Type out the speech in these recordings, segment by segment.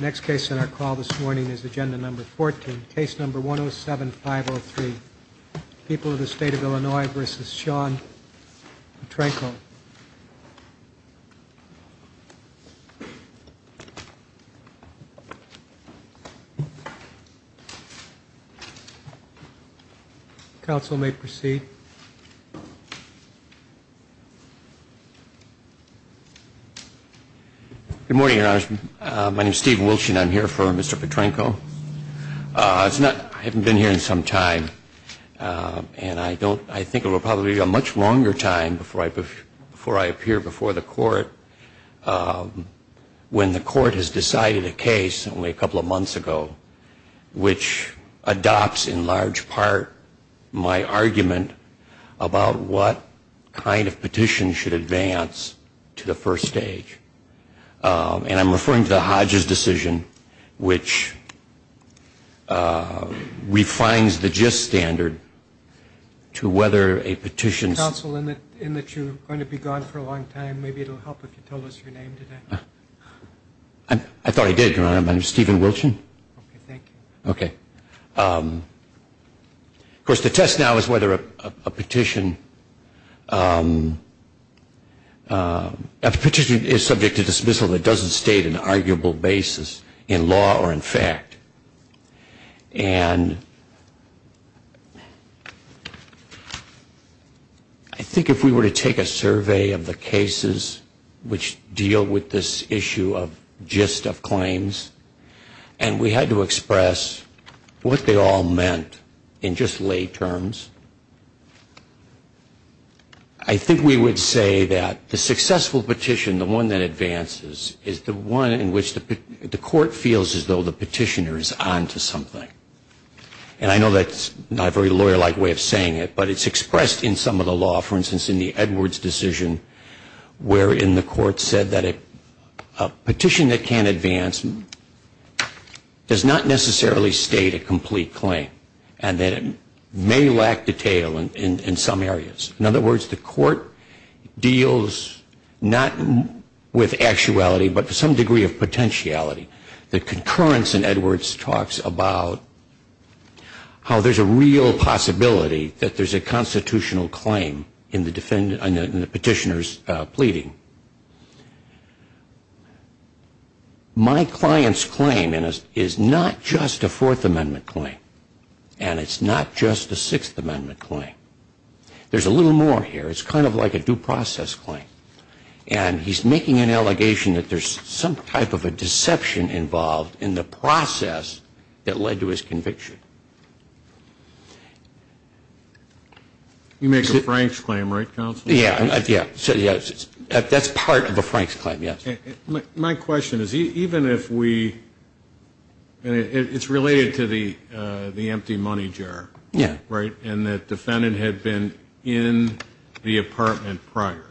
Next case on our call this morning is agenda number 14, case number 107503, People of the State of Illinois v. Sean Petrenko. Counsel may proceed. Good morning, Your Honor. My name is Stephen Wilshin. I'm here for Mr. Petrenko. I haven't been here in some time, and I think it will probably be a much longer time before I appear before the court when the court has decided a case only a couple of months ago which adopts, in large part, my argument about what kind of petition should advance to the first stage. And I'm referring to the Hodges decision which refines the gist standard to whether a petition Counsel, in that you're going to be gone for a long time, maybe it will help if you told us your name today. I thought I did, Your Honor. My name is Stephen Wilshin. Okay, thank you. Of course, the test now is whether a petition is subject to dismissal that doesn't state an arguable basis in law or in fact. And I think if we were to take a survey of the cases which deal with this issue of gist of claims, and we were to take a survey of the cases which deal with this issue of gist of claims, and we had to express what they all meant in just lay terms, I think we would say that the successful petition, the one that advances, is the one in which the court feels as though the petitioner is on to something. And I know that's not a very lawyer-like way of saying it, but it's expressed in some of the law, for instance, in the Edwards decision, wherein the court said that a petition that can advance, does not necessarily state a complete claim, and that it may lack detail in some areas. In other words, the court deals not with actuality, but with some degree of potentiality. The concurrence in Edwards talks about how there's a real possibility that there's a constitutional claim in the petitioner's pleading. My client's claim is not just a Fourth Amendment claim, and it's not just a Sixth Amendment claim. There's a little more here. It's kind of like a due process claim, and he's making an allegation that there's some type of a deception involved in the process that led to his conviction. You make a Frank's claim, right, counsel? Yeah, that's part of a Frank's claim, yes. My question is, even if we, and it's related to the empty money jar, right, and the defendant had been in the apartment prior,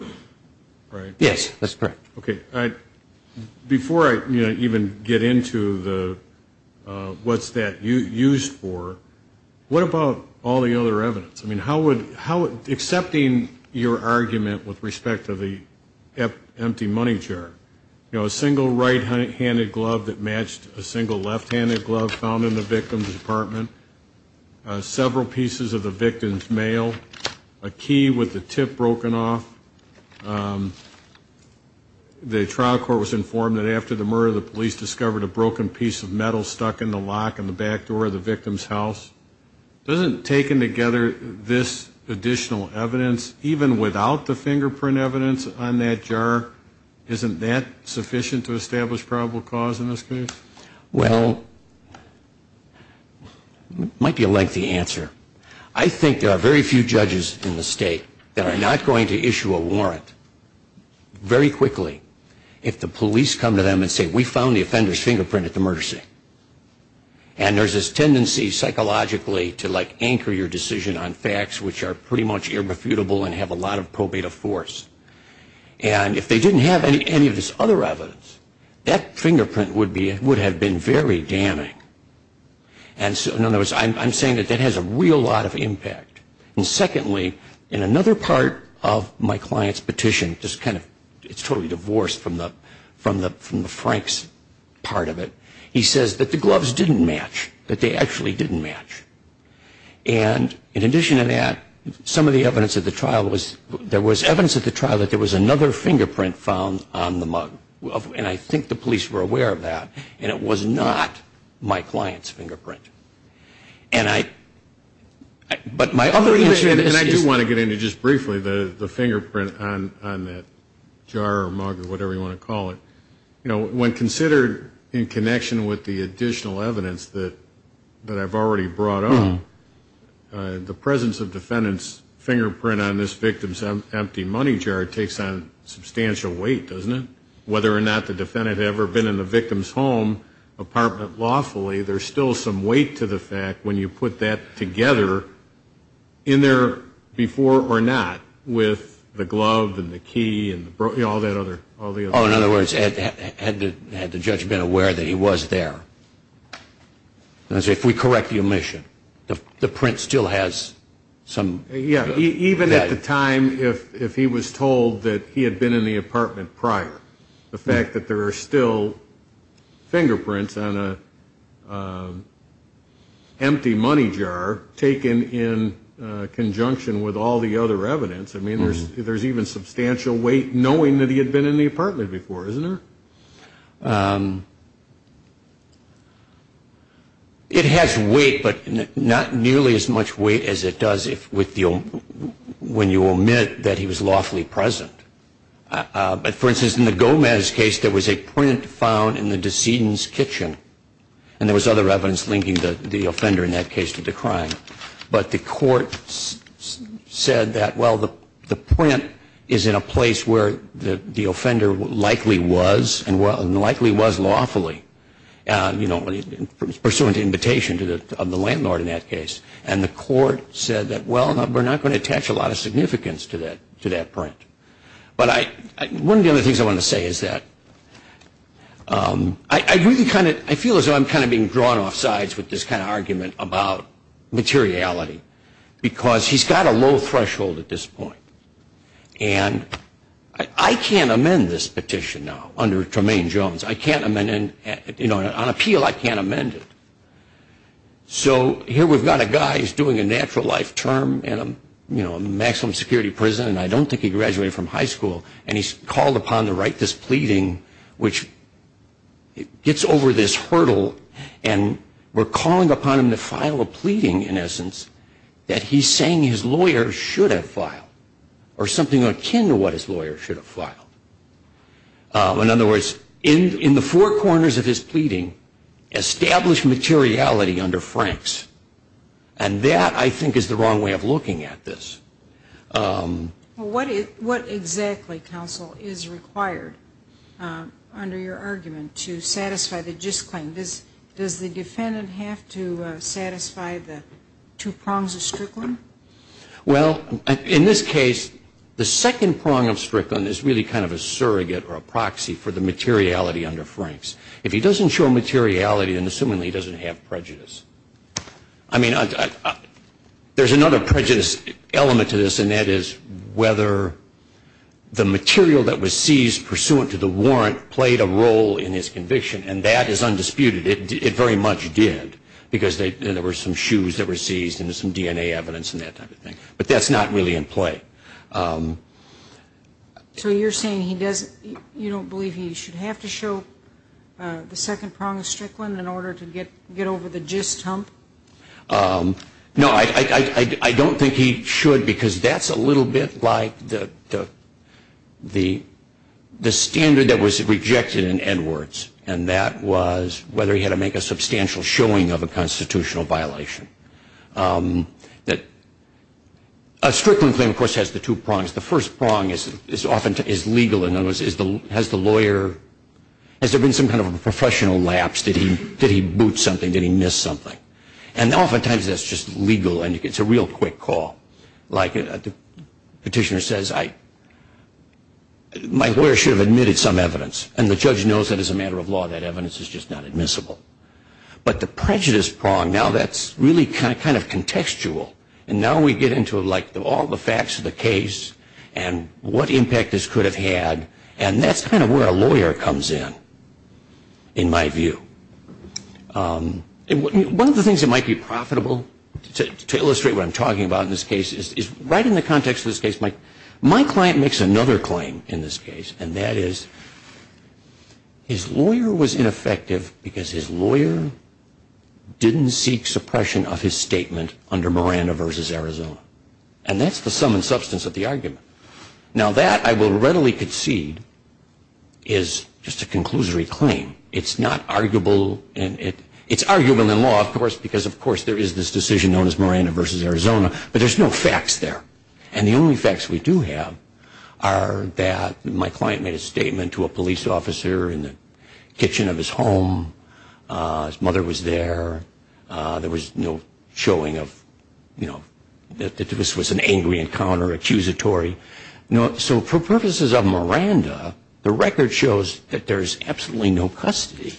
right? Yes, that's correct. Okay, before I even get into the, what's that used for, what about all the other evidence? I mean, how would, accepting your argument with respect to the empty money jar, you know, a single right-handed glove that matched a single left-handed glove found in the victim's apartment, several pieces of the victim's mail, a key with the tip broken off. The trial court was informed that after the murder, the police discovered a broken piece of metal stuck in the lock in the back door of the victim's house. Doesn't taking together this additional evidence, even without the fingerprint evidence on that jar, isn't that sufficient to establish probable cause in this case? Well, it might be a lengthy answer. I think there are very few judges in the state that are not going to issue a warrant very quickly to prove that there was a single right-handed glove. If the police come to them and say, we found the offender's fingerprint at the murder scene, and there's this tendency psychologically to, like, anchor your decision on facts which are pretty much irrefutable and have a lot of probative force. And if they didn't have any of this other evidence, that fingerprint would have been very damning. And so, in other words, I'm saying that that has a real lot of impact. And secondly, in another part of my client's petition, just kind of, it's totally divorced from the Frank's part of it, he says that the gloves didn't match, that they actually didn't match. And in addition to that, some of the evidence at the trial was, there was evidence at the trial that there was another fingerprint found on the mug. And I think the police were aware of that, and it was not my client's fingerprint. And I, but my other issue is... And I do want to get into just briefly the fingerprint on that jar or mug or whatever you want to call it. You know, when considered in connection with the additional evidence that I've already brought up, the presence of defendant's fingerprint on this victim's empty money jar takes on substantial weight, doesn't it? Whether or not the defendant had ever been in the victim's home apartment lawfully, there's still some weight to the fact, when you put that together, in there before or not, with the glove and the key and all that other... Oh, in other words, had the judge been aware that he was there? If we correct the omission, the print still has some... Yeah, even at the time if he was told that he had been in the apartment prior, the fact that there are still fingerprints on an empty money jar taken in conjunction with all the other evidence, I mean, there's even substantial weight knowing that he had been in the apartment before, isn't there? It has weight, but not nearly as much weight as it does when you omit that he was lawfully present. But, for instance, in the Gomez case, there was a print found in the decedent's kitchen, and there was other evidence linking the offender in that case to the crime. But the court said that, well, the print is in a place where the offender likely was, and that's where the print was found. And the offender was, and likely was lawfully, pursuant to invitation of the landlord in that case. And the court said that, well, we're not going to attach a lot of significance to that print. But one of the other things I want to say is that I really kind of feel as though I'm kind of being drawn off sides with this kind of argument about materiality, because he's got a low threshold at this point. And I can't amend this petition now under Tremaine Jones. On appeal, I can't amend it. So here we've got a guy who's doing a natural life term in a maximum security prison, and I don't think he graduated from high school, and he's called upon to write this pleading, which gets over this hurdle. And we're calling upon him to file a pleading, in essence, that he's saying his lawyer should have filed. Or something akin to what his lawyer should have filed. In other words, in the four corners of his pleading, establish materiality under Franks. And that, I think, is the wrong way of looking at this. What exactly, counsel, is required under your argument to satisfy the just claim? Does the defendant have to satisfy the two prongs of Strickland? Well, in this case, the second prong of Strickland is really kind of a surrogate or a proxy for the materiality under Franks. If he doesn't show materiality, then assumingly he doesn't have prejudice. There's another prejudice element to this, and that is whether the material that was seized pursuant to the warrant played a role in his conviction. And that is undisputed. It very much did, because there were some shoes that were seized and some DNA evidence and that type of thing. But that's not really in play. So you're saying you don't believe he should have to show the second prong of Strickland in order to get over the just hump? No, I don't think he should, because that's a little bit like the standard that was rejected in Edwards. And that was whether he had to make a substantial showing of a constitutional violation. A Strickland claim, of course, has the two prongs. The first prong is legal, in other words, has there been some kind of a professional lapse? Did he boot something? Did he miss something? And oftentimes that's just legal, and it's a real quick call. Like the petitioner says, my lawyer should have admitted some evidence, and the judge knows that as a matter of law that evidence is just not admissible. But the prejudice prong, now that's really kind of contextual, and now we get into all the facts of the case and what impact this could have had. And that's kind of where a lawyer comes in, in my view. One of the things that might be profitable to illustrate what I'm talking about in this case is right in the context of this case, my client makes another claim in this case, and that is, his lawyer was ineffective because his lawyer didn't seek suppression of his statement under Miranda v. Arizona, and that's the sum and substance of the argument. Now that, I will readily concede, is just a conclusory claim. It's not arguable, and it's arguable in law, of course, because of course there is this decision known as Miranda v. Arizona, but there's no facts there. And the only facts we do have are that my client made a statement to a police officer in the kitchen of his home, his mother was there, there was no showing of, you know, that this was an angry encounter, accusatory. So for purposes of Miranda, the record shows that there's absolutely no custody,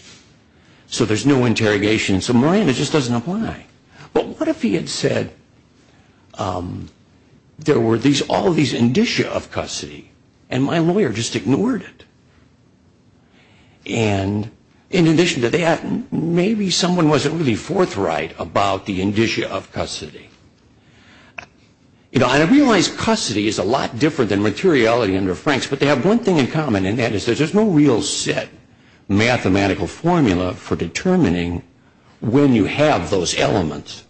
so there's no interrogation, so Miranda just doesn't apply. But what if he had said, there were all these indicia of custody, and my lawyer just ignored it? And in addition to that, maybe someone wasn't really forthright about the indicia of custody. You know, I realize custody is a lot different than materiality under Franks, but they have one thing in common, and that is there's no real set mathematical formula for determining when you have those elements.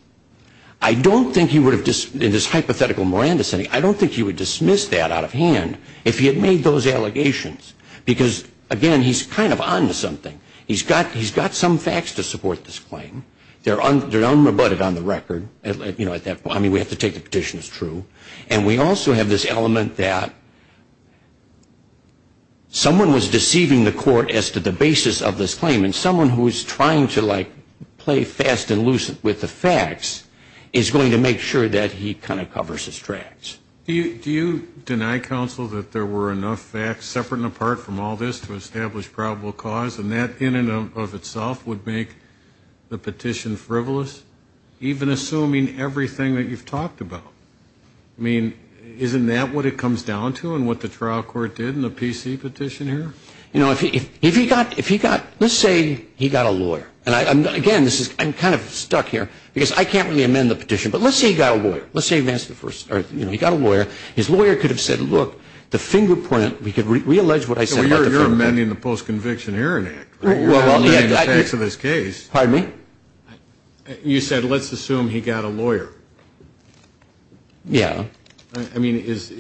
I don't think he would have, in this hypothetical Miranda setting, I don't think he would dismiss that out of hand if he had made those allegations, because again, he's kind of on to something. He's got some facts to support this claim. They're unrebutted on the record, you know, at that point, I mean, we have to take the petition as true. And we also have this element that someone was deceiving the court as to the basis of this claim, and someone who is trying to, like, play fast and loose with the facts is going to make sure that he kind of covers his tracks. Do you deny, counsel, that there were enough facts, separate and apart from all this, to establish probable cause? And that, in and of itself, would make the petition frivolous, even assuming everything that you've talked about? I mean, isn't that what it comes down to, and what the trial court did in the PC petition here? You know, if he got, let's say he got a lawyer, and again, I'm kind of stuck here, because I can't really amend the petition, but let's say he got a lawyer. Let's say he got a lawyer. His lawyer could have said, look, the fingerprint, we could reallege what I said about the fingerprint. So you're amending the Post-Conviction Hearing Act, right? You're amending the facts of this case. Pardon me? You said, let's assume he got a lawyer. Yeah. I mean, is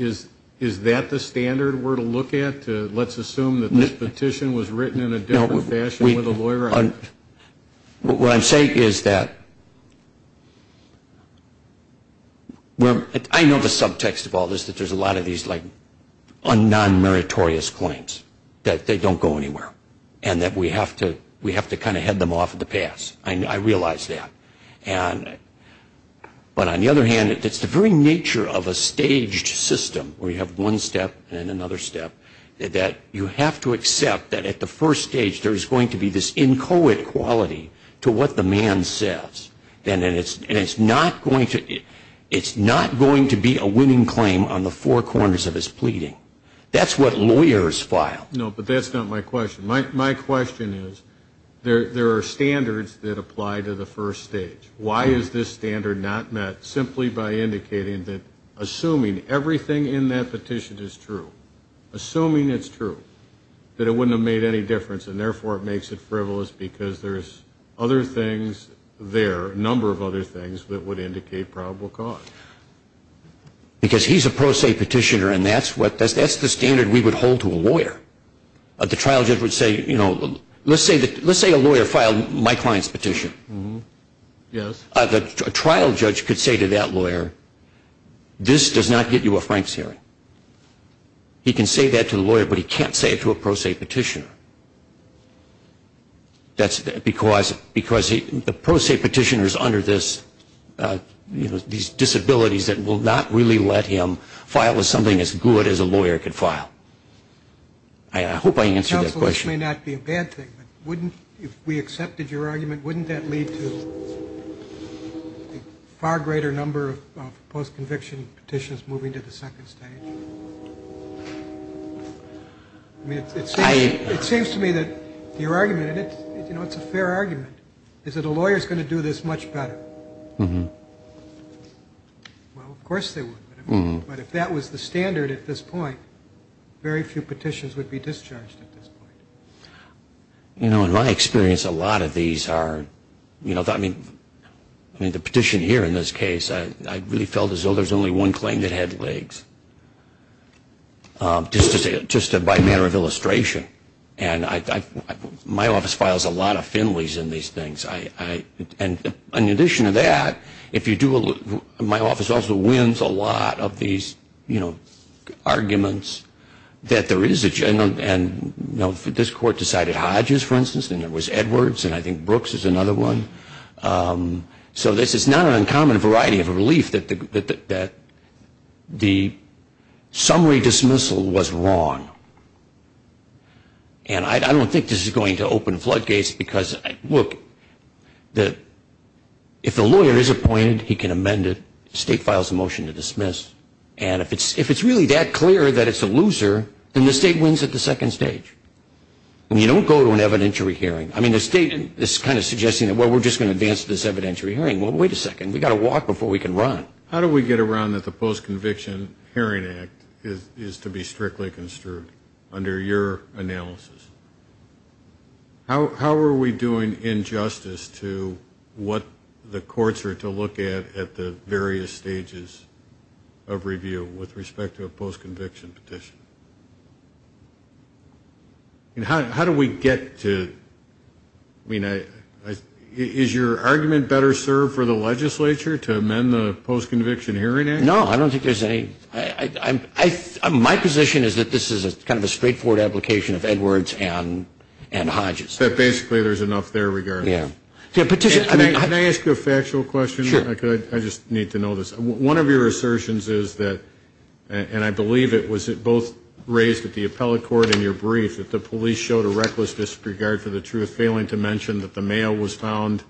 that the standard we're to look at, to let's assume that this petition was written in a different fashion with a lawyer? What I'm saying is that, I know the subtext of all this, that there's a lot of these, like, non-meritorious claims, that they don't go anywhere. And that we have to kind of head them off the pass. I realize that. But on the other hand, it's the very nature of a staged system, where you have one step and another step, that you have to accept that at the first stage there's going to be this inchoate quality to what the man says. And it's not going to be a winning claim on the four corners of his pleading. That's what lawyers file. No, but that's not my question. My question is, there are standards that apply to the first stage. Why is this standard not met simply by indicating that, assuming everything in that petition is true, assuming it's true, that it wouldn't have made any difference, and therefore it makes it frivolous, because there's other things there, a number of other things, that would indicate probable cause? Because he's a pro se petitioner, and that's the standard we would hold to a lawyer. The trial judge would say, you know, let's say a lawyer filed my client's petition. Yes. A trial judge could say to that lawyer, this does not get you a Frank's hearing. He can say that to the lawyer, but he can't say it to a pro se petitioner. That's because the pro se petitioner is under these disabilities that will not really let him file with something as good as a lawyer could file. I hope I answered that question. Far greater number of post-conviction petitions moving to the second stage. I mean, it seems to me that your argument, and it's a fair argument, is that a lawyer is going to do this much better. Well, of course they would, but if that was the standard at this point, very few petitions would be discharged at this point. You know, in my experience, a lot of these are, you know, I mean, the petition here in this case, I really felt as though there's only one claim that had legs. Just by a matter of illustration, and my office files a lot of Finleys in these things, and in addition to that, my office also wins a lot of these, you know, arguments that there is a general, and, you know, this is a general case. This court decided Hodges, for instance, and there was Edwards, and I think Brooks is another one. So this is not an uncommon variety of relief that the summary dismissal was wrong. And I don't think this is going to open floodgates, because, look, if the lawyer is appointed, he can amend it, the state files a motion to dismiss, and if it's really that clear that it's a loser, then the state wins at the second stage. I mean, you don't go to an evidentiary hearing. I mean, the state is kind of suggesting that, well, we're just going to advance this evidentiary hearing, well, wait a second, we've got to walk before we can run. How do we get around that the Post-Conviction Hearing Act is to be strictly construed under your analysis? How are we doing injustice to what the courts are to look at at the various stages of review with respect to a post-conviction petition? How do we get to, I mean, is your argument better served for the legislature to amend the Post-Conviction Hearing Act? No, I don't think there's any, my position is that this is kind of a straightforward application of Edwards and Hodges. But basically there's enough there regardless. Can I ask you a factual question? I just need to know this. One of your assertions is that, and I believe it was both raised at the appellate court in your brief, that the police showed a reckless disregard for the truth, failing to mention that the mail was found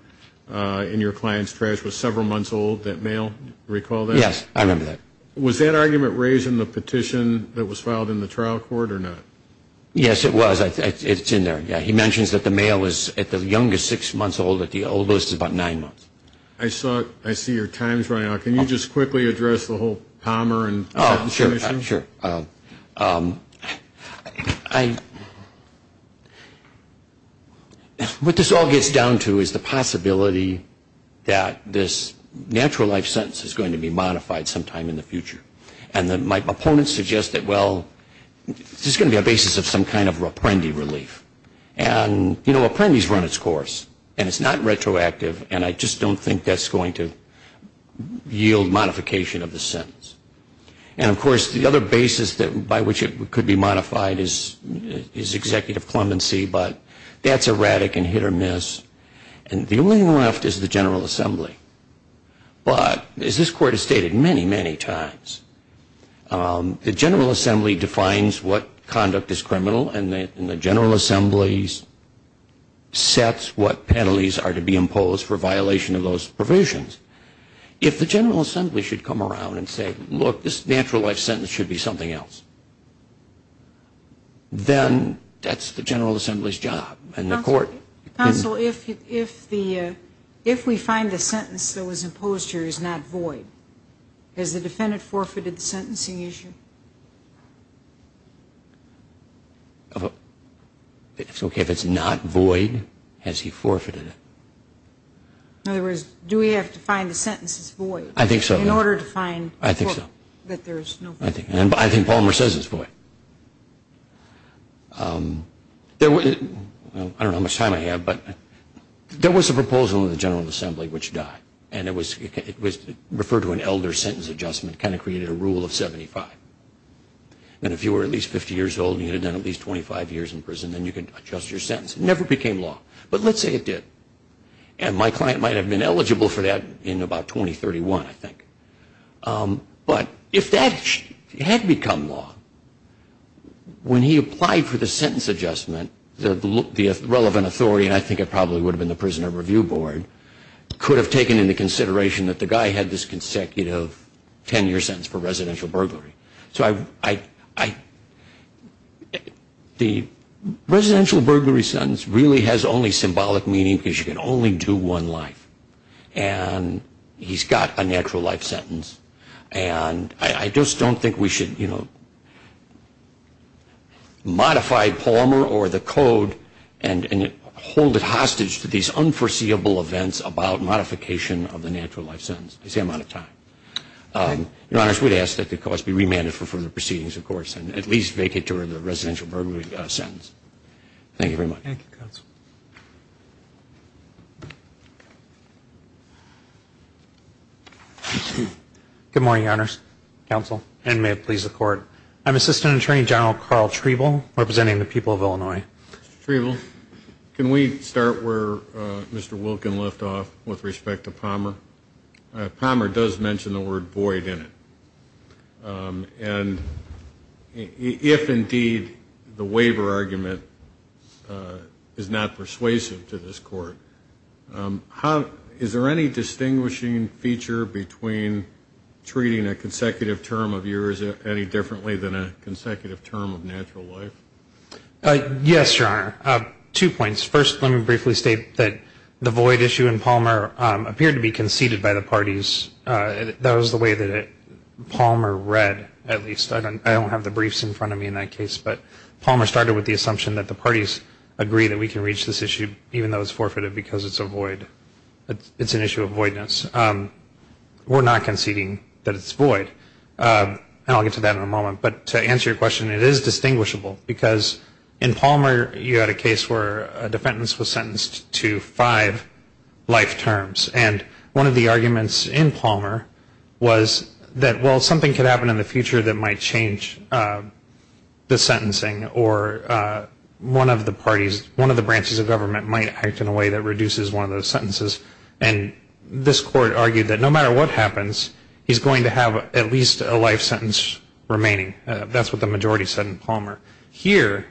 in your client's trash was several months old. That mail, recall that? Yes, I remember that. Was that argument raised in the petition that was filed in the trial court or not? Yes, it was. It's in there. He mentions that the mail is at the youngest six months old, at the oldest is about nine months. I saw, I see your time's running out. Can you just quickly address the whole Palmer? Oh, sure, I'm sure. What this all gets down to is the possibility that this natural life sentence is going to be modified sometime in the future. And my opponents suggest that, well, this is going to be a basis of some kind of reprendi relief. And, you know, reprendis run its course. And it's not retroactive, and I just don't think that's going to yield modification of the sentence. And, of course, the other basis by which it could be modified is executive clemency, but that's erratic and hit or miss. And the only one left is the General Assembly. The General Assembly defines what conduct is criminal, and the General Assembly sets what penalties are to be imposed for violation of those provisions. If the General Assembly should come around and say, look, this natural life sentence should be something else, then that's the General Assembly's job. Counsel, if we find the sentence that was imposed here is not void, is the defendant forfeited the sentence? Has he forfeited the sentencing issue? It's okay if it's not void. Has he forfeited it? In other words, do we have to find the sentence that's void in order to find that there's no void? I think so. And I think Palmer says it's void. I don't know how much time I have, but there was a proposal in the General Assembly which died. And it was referred to an elder sentence adjustment, kind of created a rule of 75. And if you were at least 50 years old and you had done at least 25 years in prison, then you could adjust your sentence. It never became law, but let's say it did. And my client might have been eligible for that in about 2031, I think. But if that had become law, when he applied for the sentence adjustment, the relevant authority, and I think it probably would have been the Prisoner Review Board, could have taken into consideration that the guy had this consecutive 10-year sentence for residential burglary. So the residential burglary sentence really has only symbolic meaning because you can only do one life. And he's got a natural life sentence. And I just don't think we should modify Palmer or the code and hold it hostage to these unforeseeable events. About modification of the natural life sentence, I say I'm out of time. Your Honors, we'd ask that the cause be remanded for further proceedings, of course, and at least vacate toward the residential burglary sentence. Thank you very much. Good morning, Your Honors, Counsel, and may it please the Court. I'm Assistant Attorney General Carl Treble, representing the people of Illinois. I'd like to start off with respect to Palmer. Palmer does mention the word void in it. And if, indeed, the waiver argument is not persuasive to this Court, is there any distinguishing feature between treating a consecutive term of years any differently than a consecutive term of natural life? Yes, Your Honor. Two points. First, let me briefly state that the void issue in Palmer appeared to be conceded by the parties. That was the way that Palmer read, at least. I don't have the briefs in front of me in that case, but Palmer started with the assumption that the parties agree that we can reach this issue even though it's forfeited because it's a void. It's an issue of voidness. We're not conceding that it's void. And I'll get to that in a moment. But to answer your question, it is distinguishable because in Palmer you had a case where a defendant was sentenced to five life terms. And one of the arguments in Palmer was that, well, something could happen in the future that might change the sentencing, or one of the parties, one of the branches of government might act in a way that reduces one of those sentences. And this Court argued that no matter what happens, he's going to have at least a life sentence remaining. That's what the majority said in Palmer. Here,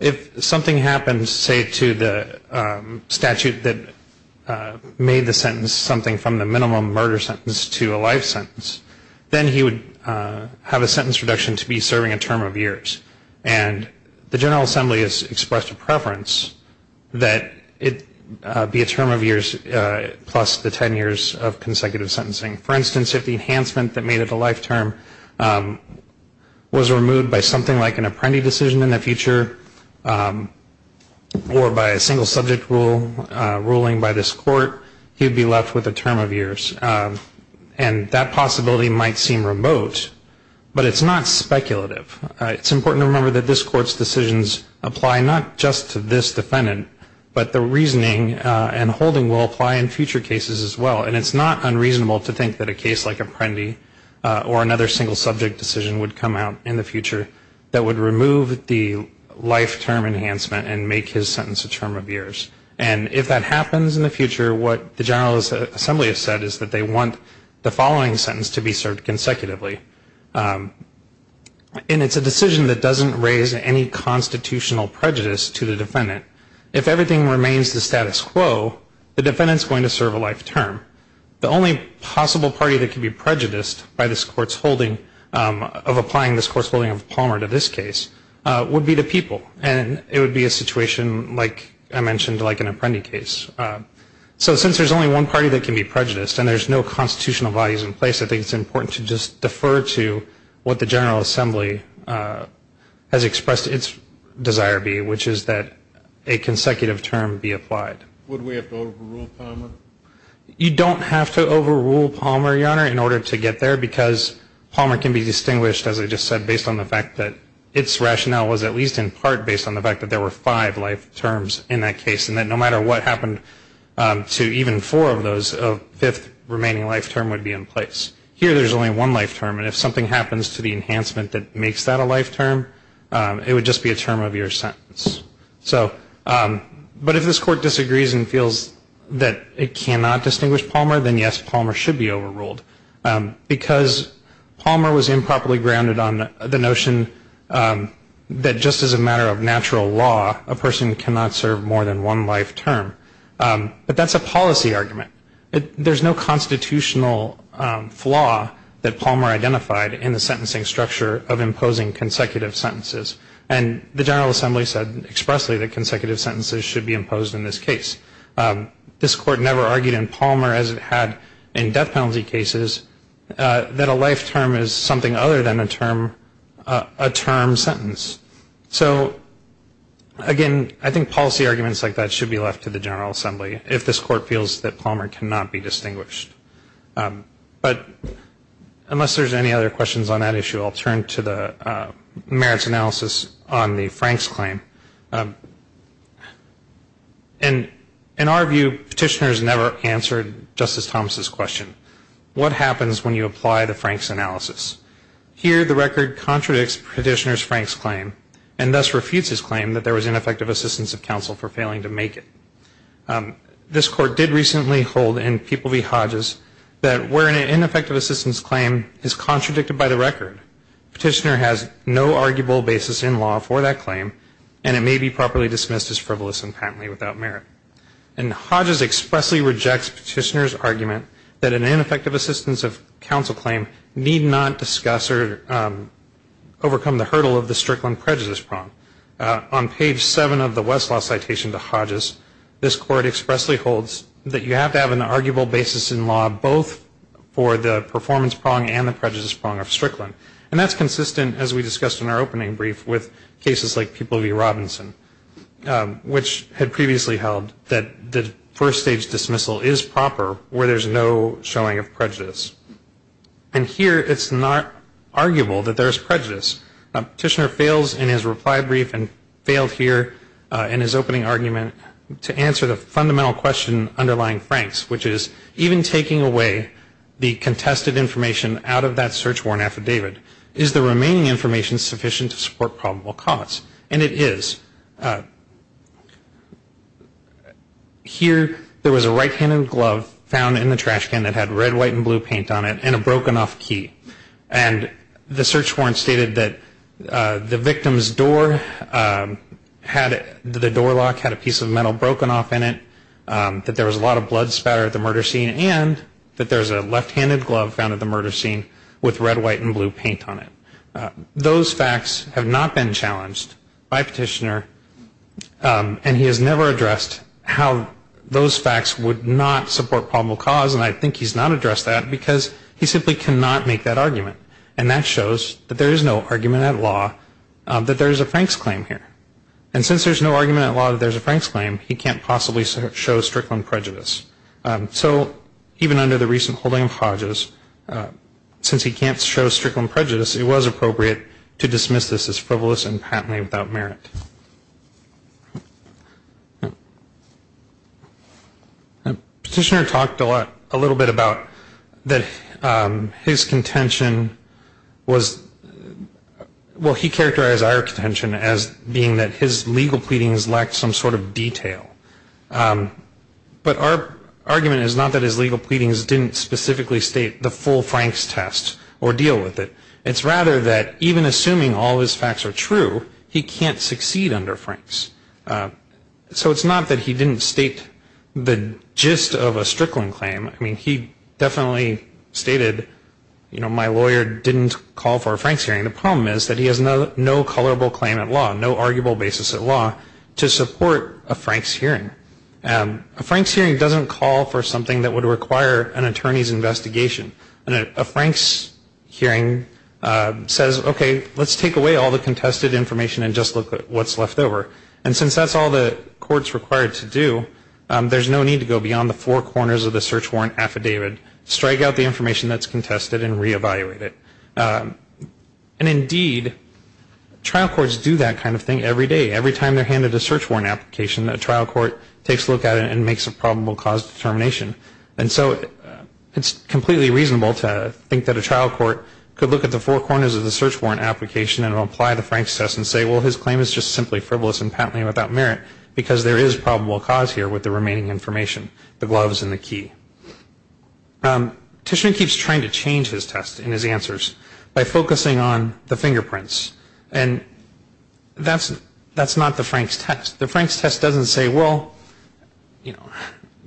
if something happens, say, to the statute that made the sentence something from the minimum murder sentence to a life sentence, then he would have a sentence reduction to be serving a term of years. And the General Assembly has expressed a preference that it be a term of years that is not a void. That is, plus the ten years of consecutive sentencing. For instance, if the enhancement that made it a life term was removed by something like an apprentice decision in the future, or by a single subject ruling by this Court, he would be left with a term of years. And that possibility might seem remote, but it's not speculative. It's important to remember that this Court's decisions apply not just to this defendant, but the reasoning and holding will of the defendant. And that will apply in future cases as well. And it's not unreasonable to think that a case like Apprendi or another single subject decision would come out in the future that would remove the life term enhancement and make his sentence a term of years. And if that happens in the future, what the General Assembly has said is that they want the following sentence to be served consecutively. And it's a decision that doesn't raise any constitutional prejudice to the defendant. If everything remains the status quo, the defendant's going to serve a life term. The only possible party that can be prejudiced by this Court's holding of applying this Court's holding of Palmer to this case would be the people. And it would be a situation like I mentioned, like an Apprendi case. So since there's only one party that can be prejudiced, and there's no constitutional values in place, I think it's important to just defer to what the General Assembly has expressed its desire be, which is that a consecutive term be applied. You don't have to overrule Palmer, Your Honor, in order to get there, because Palmer can be distinguished, as I just said, based on the fact that its rationale was at least in part based on the fact that there were five life terms in that case, and that no matter what happened to even four of those, a fifth remaining life term would be in place. Here there's only one life term, and if something happens to the enhancement that makes that a life term, it would just be a term of years sentence. So, but if this Court disagrees and feels that it cannot distinguish Palmer, then yes, Palmer should be overruled. Because Palmer was improperly grounded on the notion that just as a matter of natural law, a person cannot serve more than one life term. But that's a policy argument. There's no constitutional flaw that Palmer identified in the sentencing structure of imposing consecutive sentences. And the General Assembly said expressly that consecutive sentences should be imposed in this case. This Court never argued in Palmer, as it had in death penalty cases, that a life term is something other than a term sentence. So, again, I think policy arguments like that should be left to the General Assembly, if this Court feels that Palmer cannot be distinguished. But unless there's any other questions on that issue, I'll turn to the merits analysis. On the Frank's claim, in our view, Petitioner's never answered Justice Thomas' question. What happens when you apply the Frank's analysis? Here the record contradicts Petitioner's Frank's claim, and thus refutes his claim that there was ineffective assistance of counsel for failing to make it. This Court did recently hold in People v. Hodges that where an ineffective assistance claim is contradicted by the record, Petitioner has no arguable basis in law for that claim, and it may be properly dismissed as frivolous and patently without merit. And Hodges expressly rejects Petitioner's argument that an ineffective assistance of counsel claim need not discuss or overcome the hurdle of the Strickland prejudice prong. On page 7 of the Westlaw citation to Hodges, this Court expressly holds that you have to have an arguable basis in law, both for the performance prong and the prejudice prong of Strickland, and that's consistent, as we discussed in our opening brief, with cases like People v. Robinson, which had previously held that the first stage dismissal is proper where there's no showing of prejudice. And here it's not arguable that there's prejudice. Petitioner fails in his reply brief and failed here in his opening argument to answer the fundamental question underlying Frank's, which is even taking away the contested information out of that search warrant affidavit, is the remaining information sufficient to support probable cause? And it is. Here there was a right-handed glove found in the trash can that had red, white, and blue paint on it and a broken off key. And the search warrant stated that the victim's door had the door lock had a piece of metal broken off in it, that there was a lot of evidence there at the murder scene, and that there's a left-handed glove found at the murder scene with red, white, and blue paint on it. Those facts have not been challenged by Petitioner, and he has never addressed how those facts would not support probable cause, and I think he's not addressed that because he simply cannot make that argument, and that shows that there is no argument at law that there is a Frank's claim here. And since there's no argument at law that there's a Frank's claim, he can't possibly show Strickland prejudice. So even under the recent holding of Hodges, since he can't show Strickland prejudice, it was appropriate to dismiss this as frivolous and patently without merit. Petitioner talked a little bit about that his contention was, well, he characterized our contention as being that his legal pleadings lacked some sort of detail, but our argument is not that his legal pleadings didn't specifically state the full Frank's test or deal with it. It's rather that even assuming all his facts are true, he can't succeed under Frank's. So it's not that he didn't state the gist of a Strickland claim. I mean, he definitely stated, you know, my lawyer didn't call for a Frank's hearing. The problem is that he has no colorable claim at law, no arguable basis at law to support a Frank's hearing. A Frank's hearing doesn't call for something that would require an attorney's investigation. A Frank's hearing says, okay, let's take away all the contested information and just look at what's left over. And since that's all the court's required to do, there's no need to go beyond the four corners of the search warrant affidavit, strike out the information that's contested, and reevaluate it. And indeed, trial courts do that kind of thing every day. Every time they're handed a search warrant application, a trial court takes a look at it and makes a probable cause determination. And so it's completely reasonable to think that a trial court could look at the four corners of the search warrant application and apply the Frank's test and say, well, his claim is just simply frivolous and patently without merit, because there is probable cause here with the remaining information, the gloves and the key. Tishman keeps trying to change his test and his answers by focusing on the fingerprints. And that's not the Frank's test. The Frank's test doesn't say, well,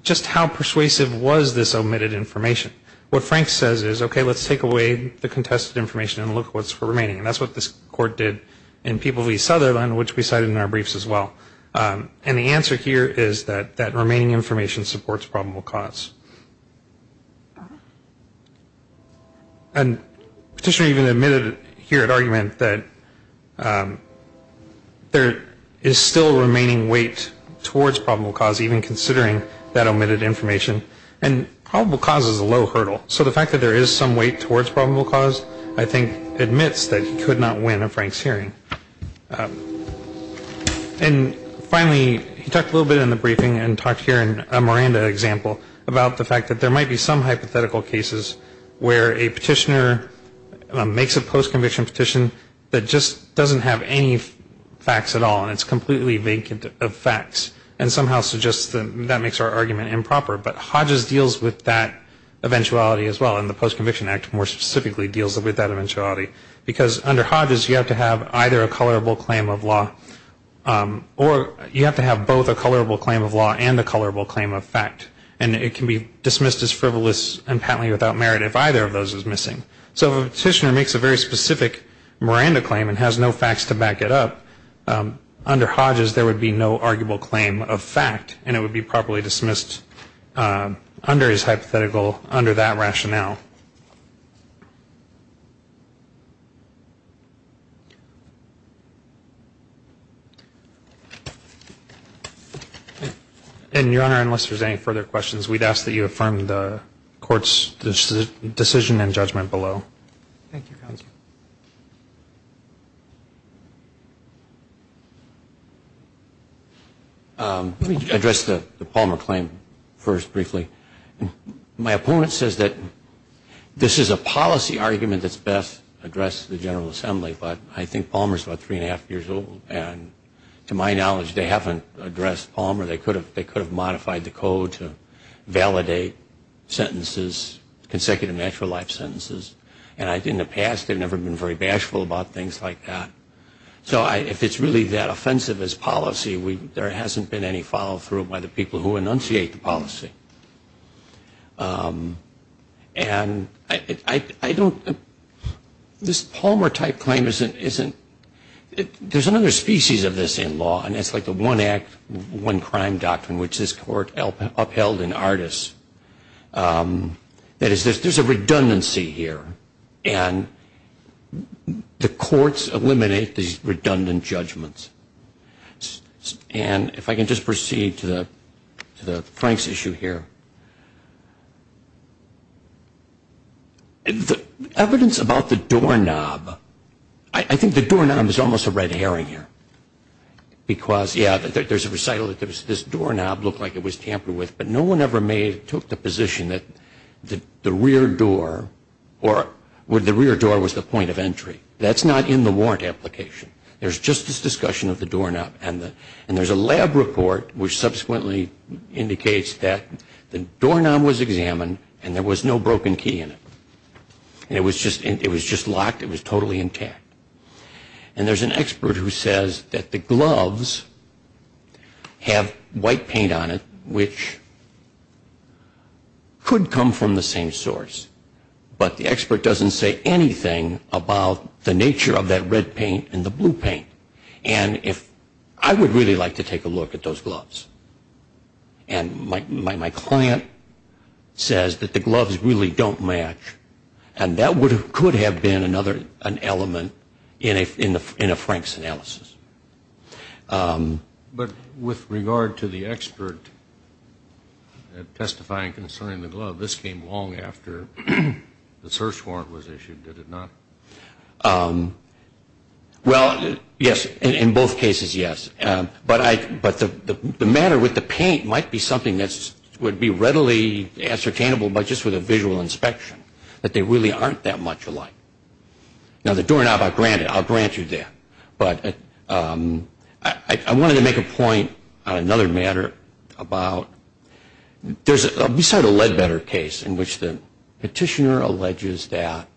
just how persuasive was this omitted information? What Frank says is, okay, let's take away the contested information and look at what's remaining. And that's what this court did in People v. Sutherland, which we cited in our briefs as well. And the answer here is that that remaining information supports probable cause. And Petitioner even admitted here at argument that there is still a remaining weight towards probable cause, even considering that omitted information. And probable cause is a low hurdle, so the fact that there is some weight towards probable cause I think admits that he could not win a Frank's hearing. And finally, he talked a little bit in the briefing and talked here in a Miranda example about the fact that there might be some hypothetical cases where a petitioner makes a post-conviction petition that just doesn't have any facts at all, and it's completely vacant of facts, and somehow suggests that that makes our argument improper. But Hodges deals with that eventuality as well, and the Post-Conviction Act more specifically deals with that eventuality. Because under Hodges, you have to have either a colorable claim of law, or you have to have both a colorable claim of law and a colorable claim of fact. And it can be dismissed as frivolous and patently without merit if either of those is missing. So if a petitioner makes a very specific Miranda claim and has no facts to back it up, under Hodges there would be no arguable claim of fact, and it would be properly dismissed under his hypothetical, under that rationale. And your Honor, unless there's any further questions, we'd ask that you affirm the Court's decision and judgment below. Thank you, counsel. Let me address the Palmer claim first briefly. My opponent says that this is a policy argument that's best addressed at the General Assembly, but I think Palmer's about three and a half years old, and to my knowledge they haven't addressed Palmer. They could have modified the code to validate sentences, consecutive natural life sentences, and in the past they've never been very bashful about things like that. So if it's really that offensive as policy, there hasn't been any follow-through by the people who enunciate the policy. And I don't, this Palmer-type claim isn't, there's another species of this in law, and it's like the one act, one crime doctrine, which this Court upheld in Artis. That is, there's a redundancy here, and the courts eliminate these redundant judgments. And if I can just proceed to Frank's issue here. The evidence about the doorknob, I think the doorknob is almost a red herring here, because, yeah, there's a recital that this doorknob looked like it was tampered with, but no one ever took the position that the rear door, or the rear door was the point of entry. That's not in the warrant application. There's just this discussion of the doorknob, and there's a lab report, which subsequently indicates that the doorknob was examined, and there was no broken key in it. It was just locked, it was totally intact. And there's an expert who says that the gloves have white paint on it, which could come from the same source, but the expert doesn't say anything about the nature of that red paint and the blue paint. And I would really like to take a look at those gloves. And my client says that the gloves really don't match, and that could have been another element in a Frank's analysis. But with regard to the expert testifying concerning the glove, this came long after the search warrant was issued, did it not? Well, yes, in both cases, yes. But the matter with the paint might be something that would be readily ascertainable by just with a visual inspection, that they really aren't that much alike. Now, the doorknob, I'll grant you that. But I wanted to make a point on another matter about, we started a Ledbetter case in which the petitioner alleges that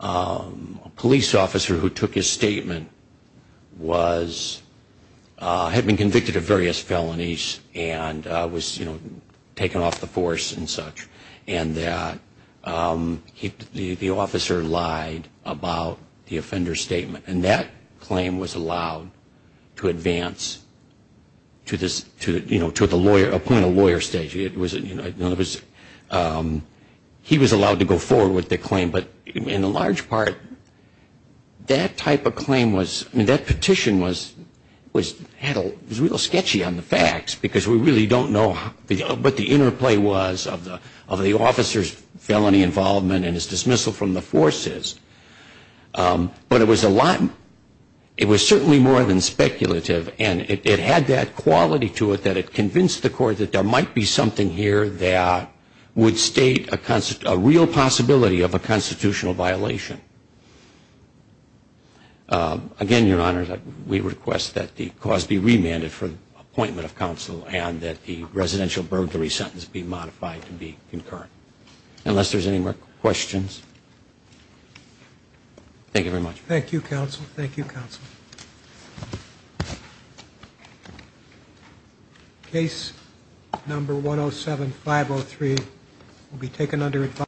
a police officer who took his statement had been convicted of various felonies and was taken off the force and such, the officer lied about the offender's statement. And that claim was allowed to advance to the point of lawyer stage. He was allowed to go forward with the claim, but in the large part, that type of claim was, that petition was real sketchy on the facts, because we really don't know what the inner play was of the officer's felony involvement and his dismissal from the forces. But it was certainly more than speculative, and it had that quality to it that it convinced the court that there might be something here that would state a real possibility of a constitutional violation. Again, Your Honor, we request that the cause be remanded for the appointment of counsel and that the residential burglary sentence be modified to be concurrent. Unless there's any more questions. Thank you very much. Thank you, Counsel. Thank you, Counsel. Case number 107503 will be taken under advisory.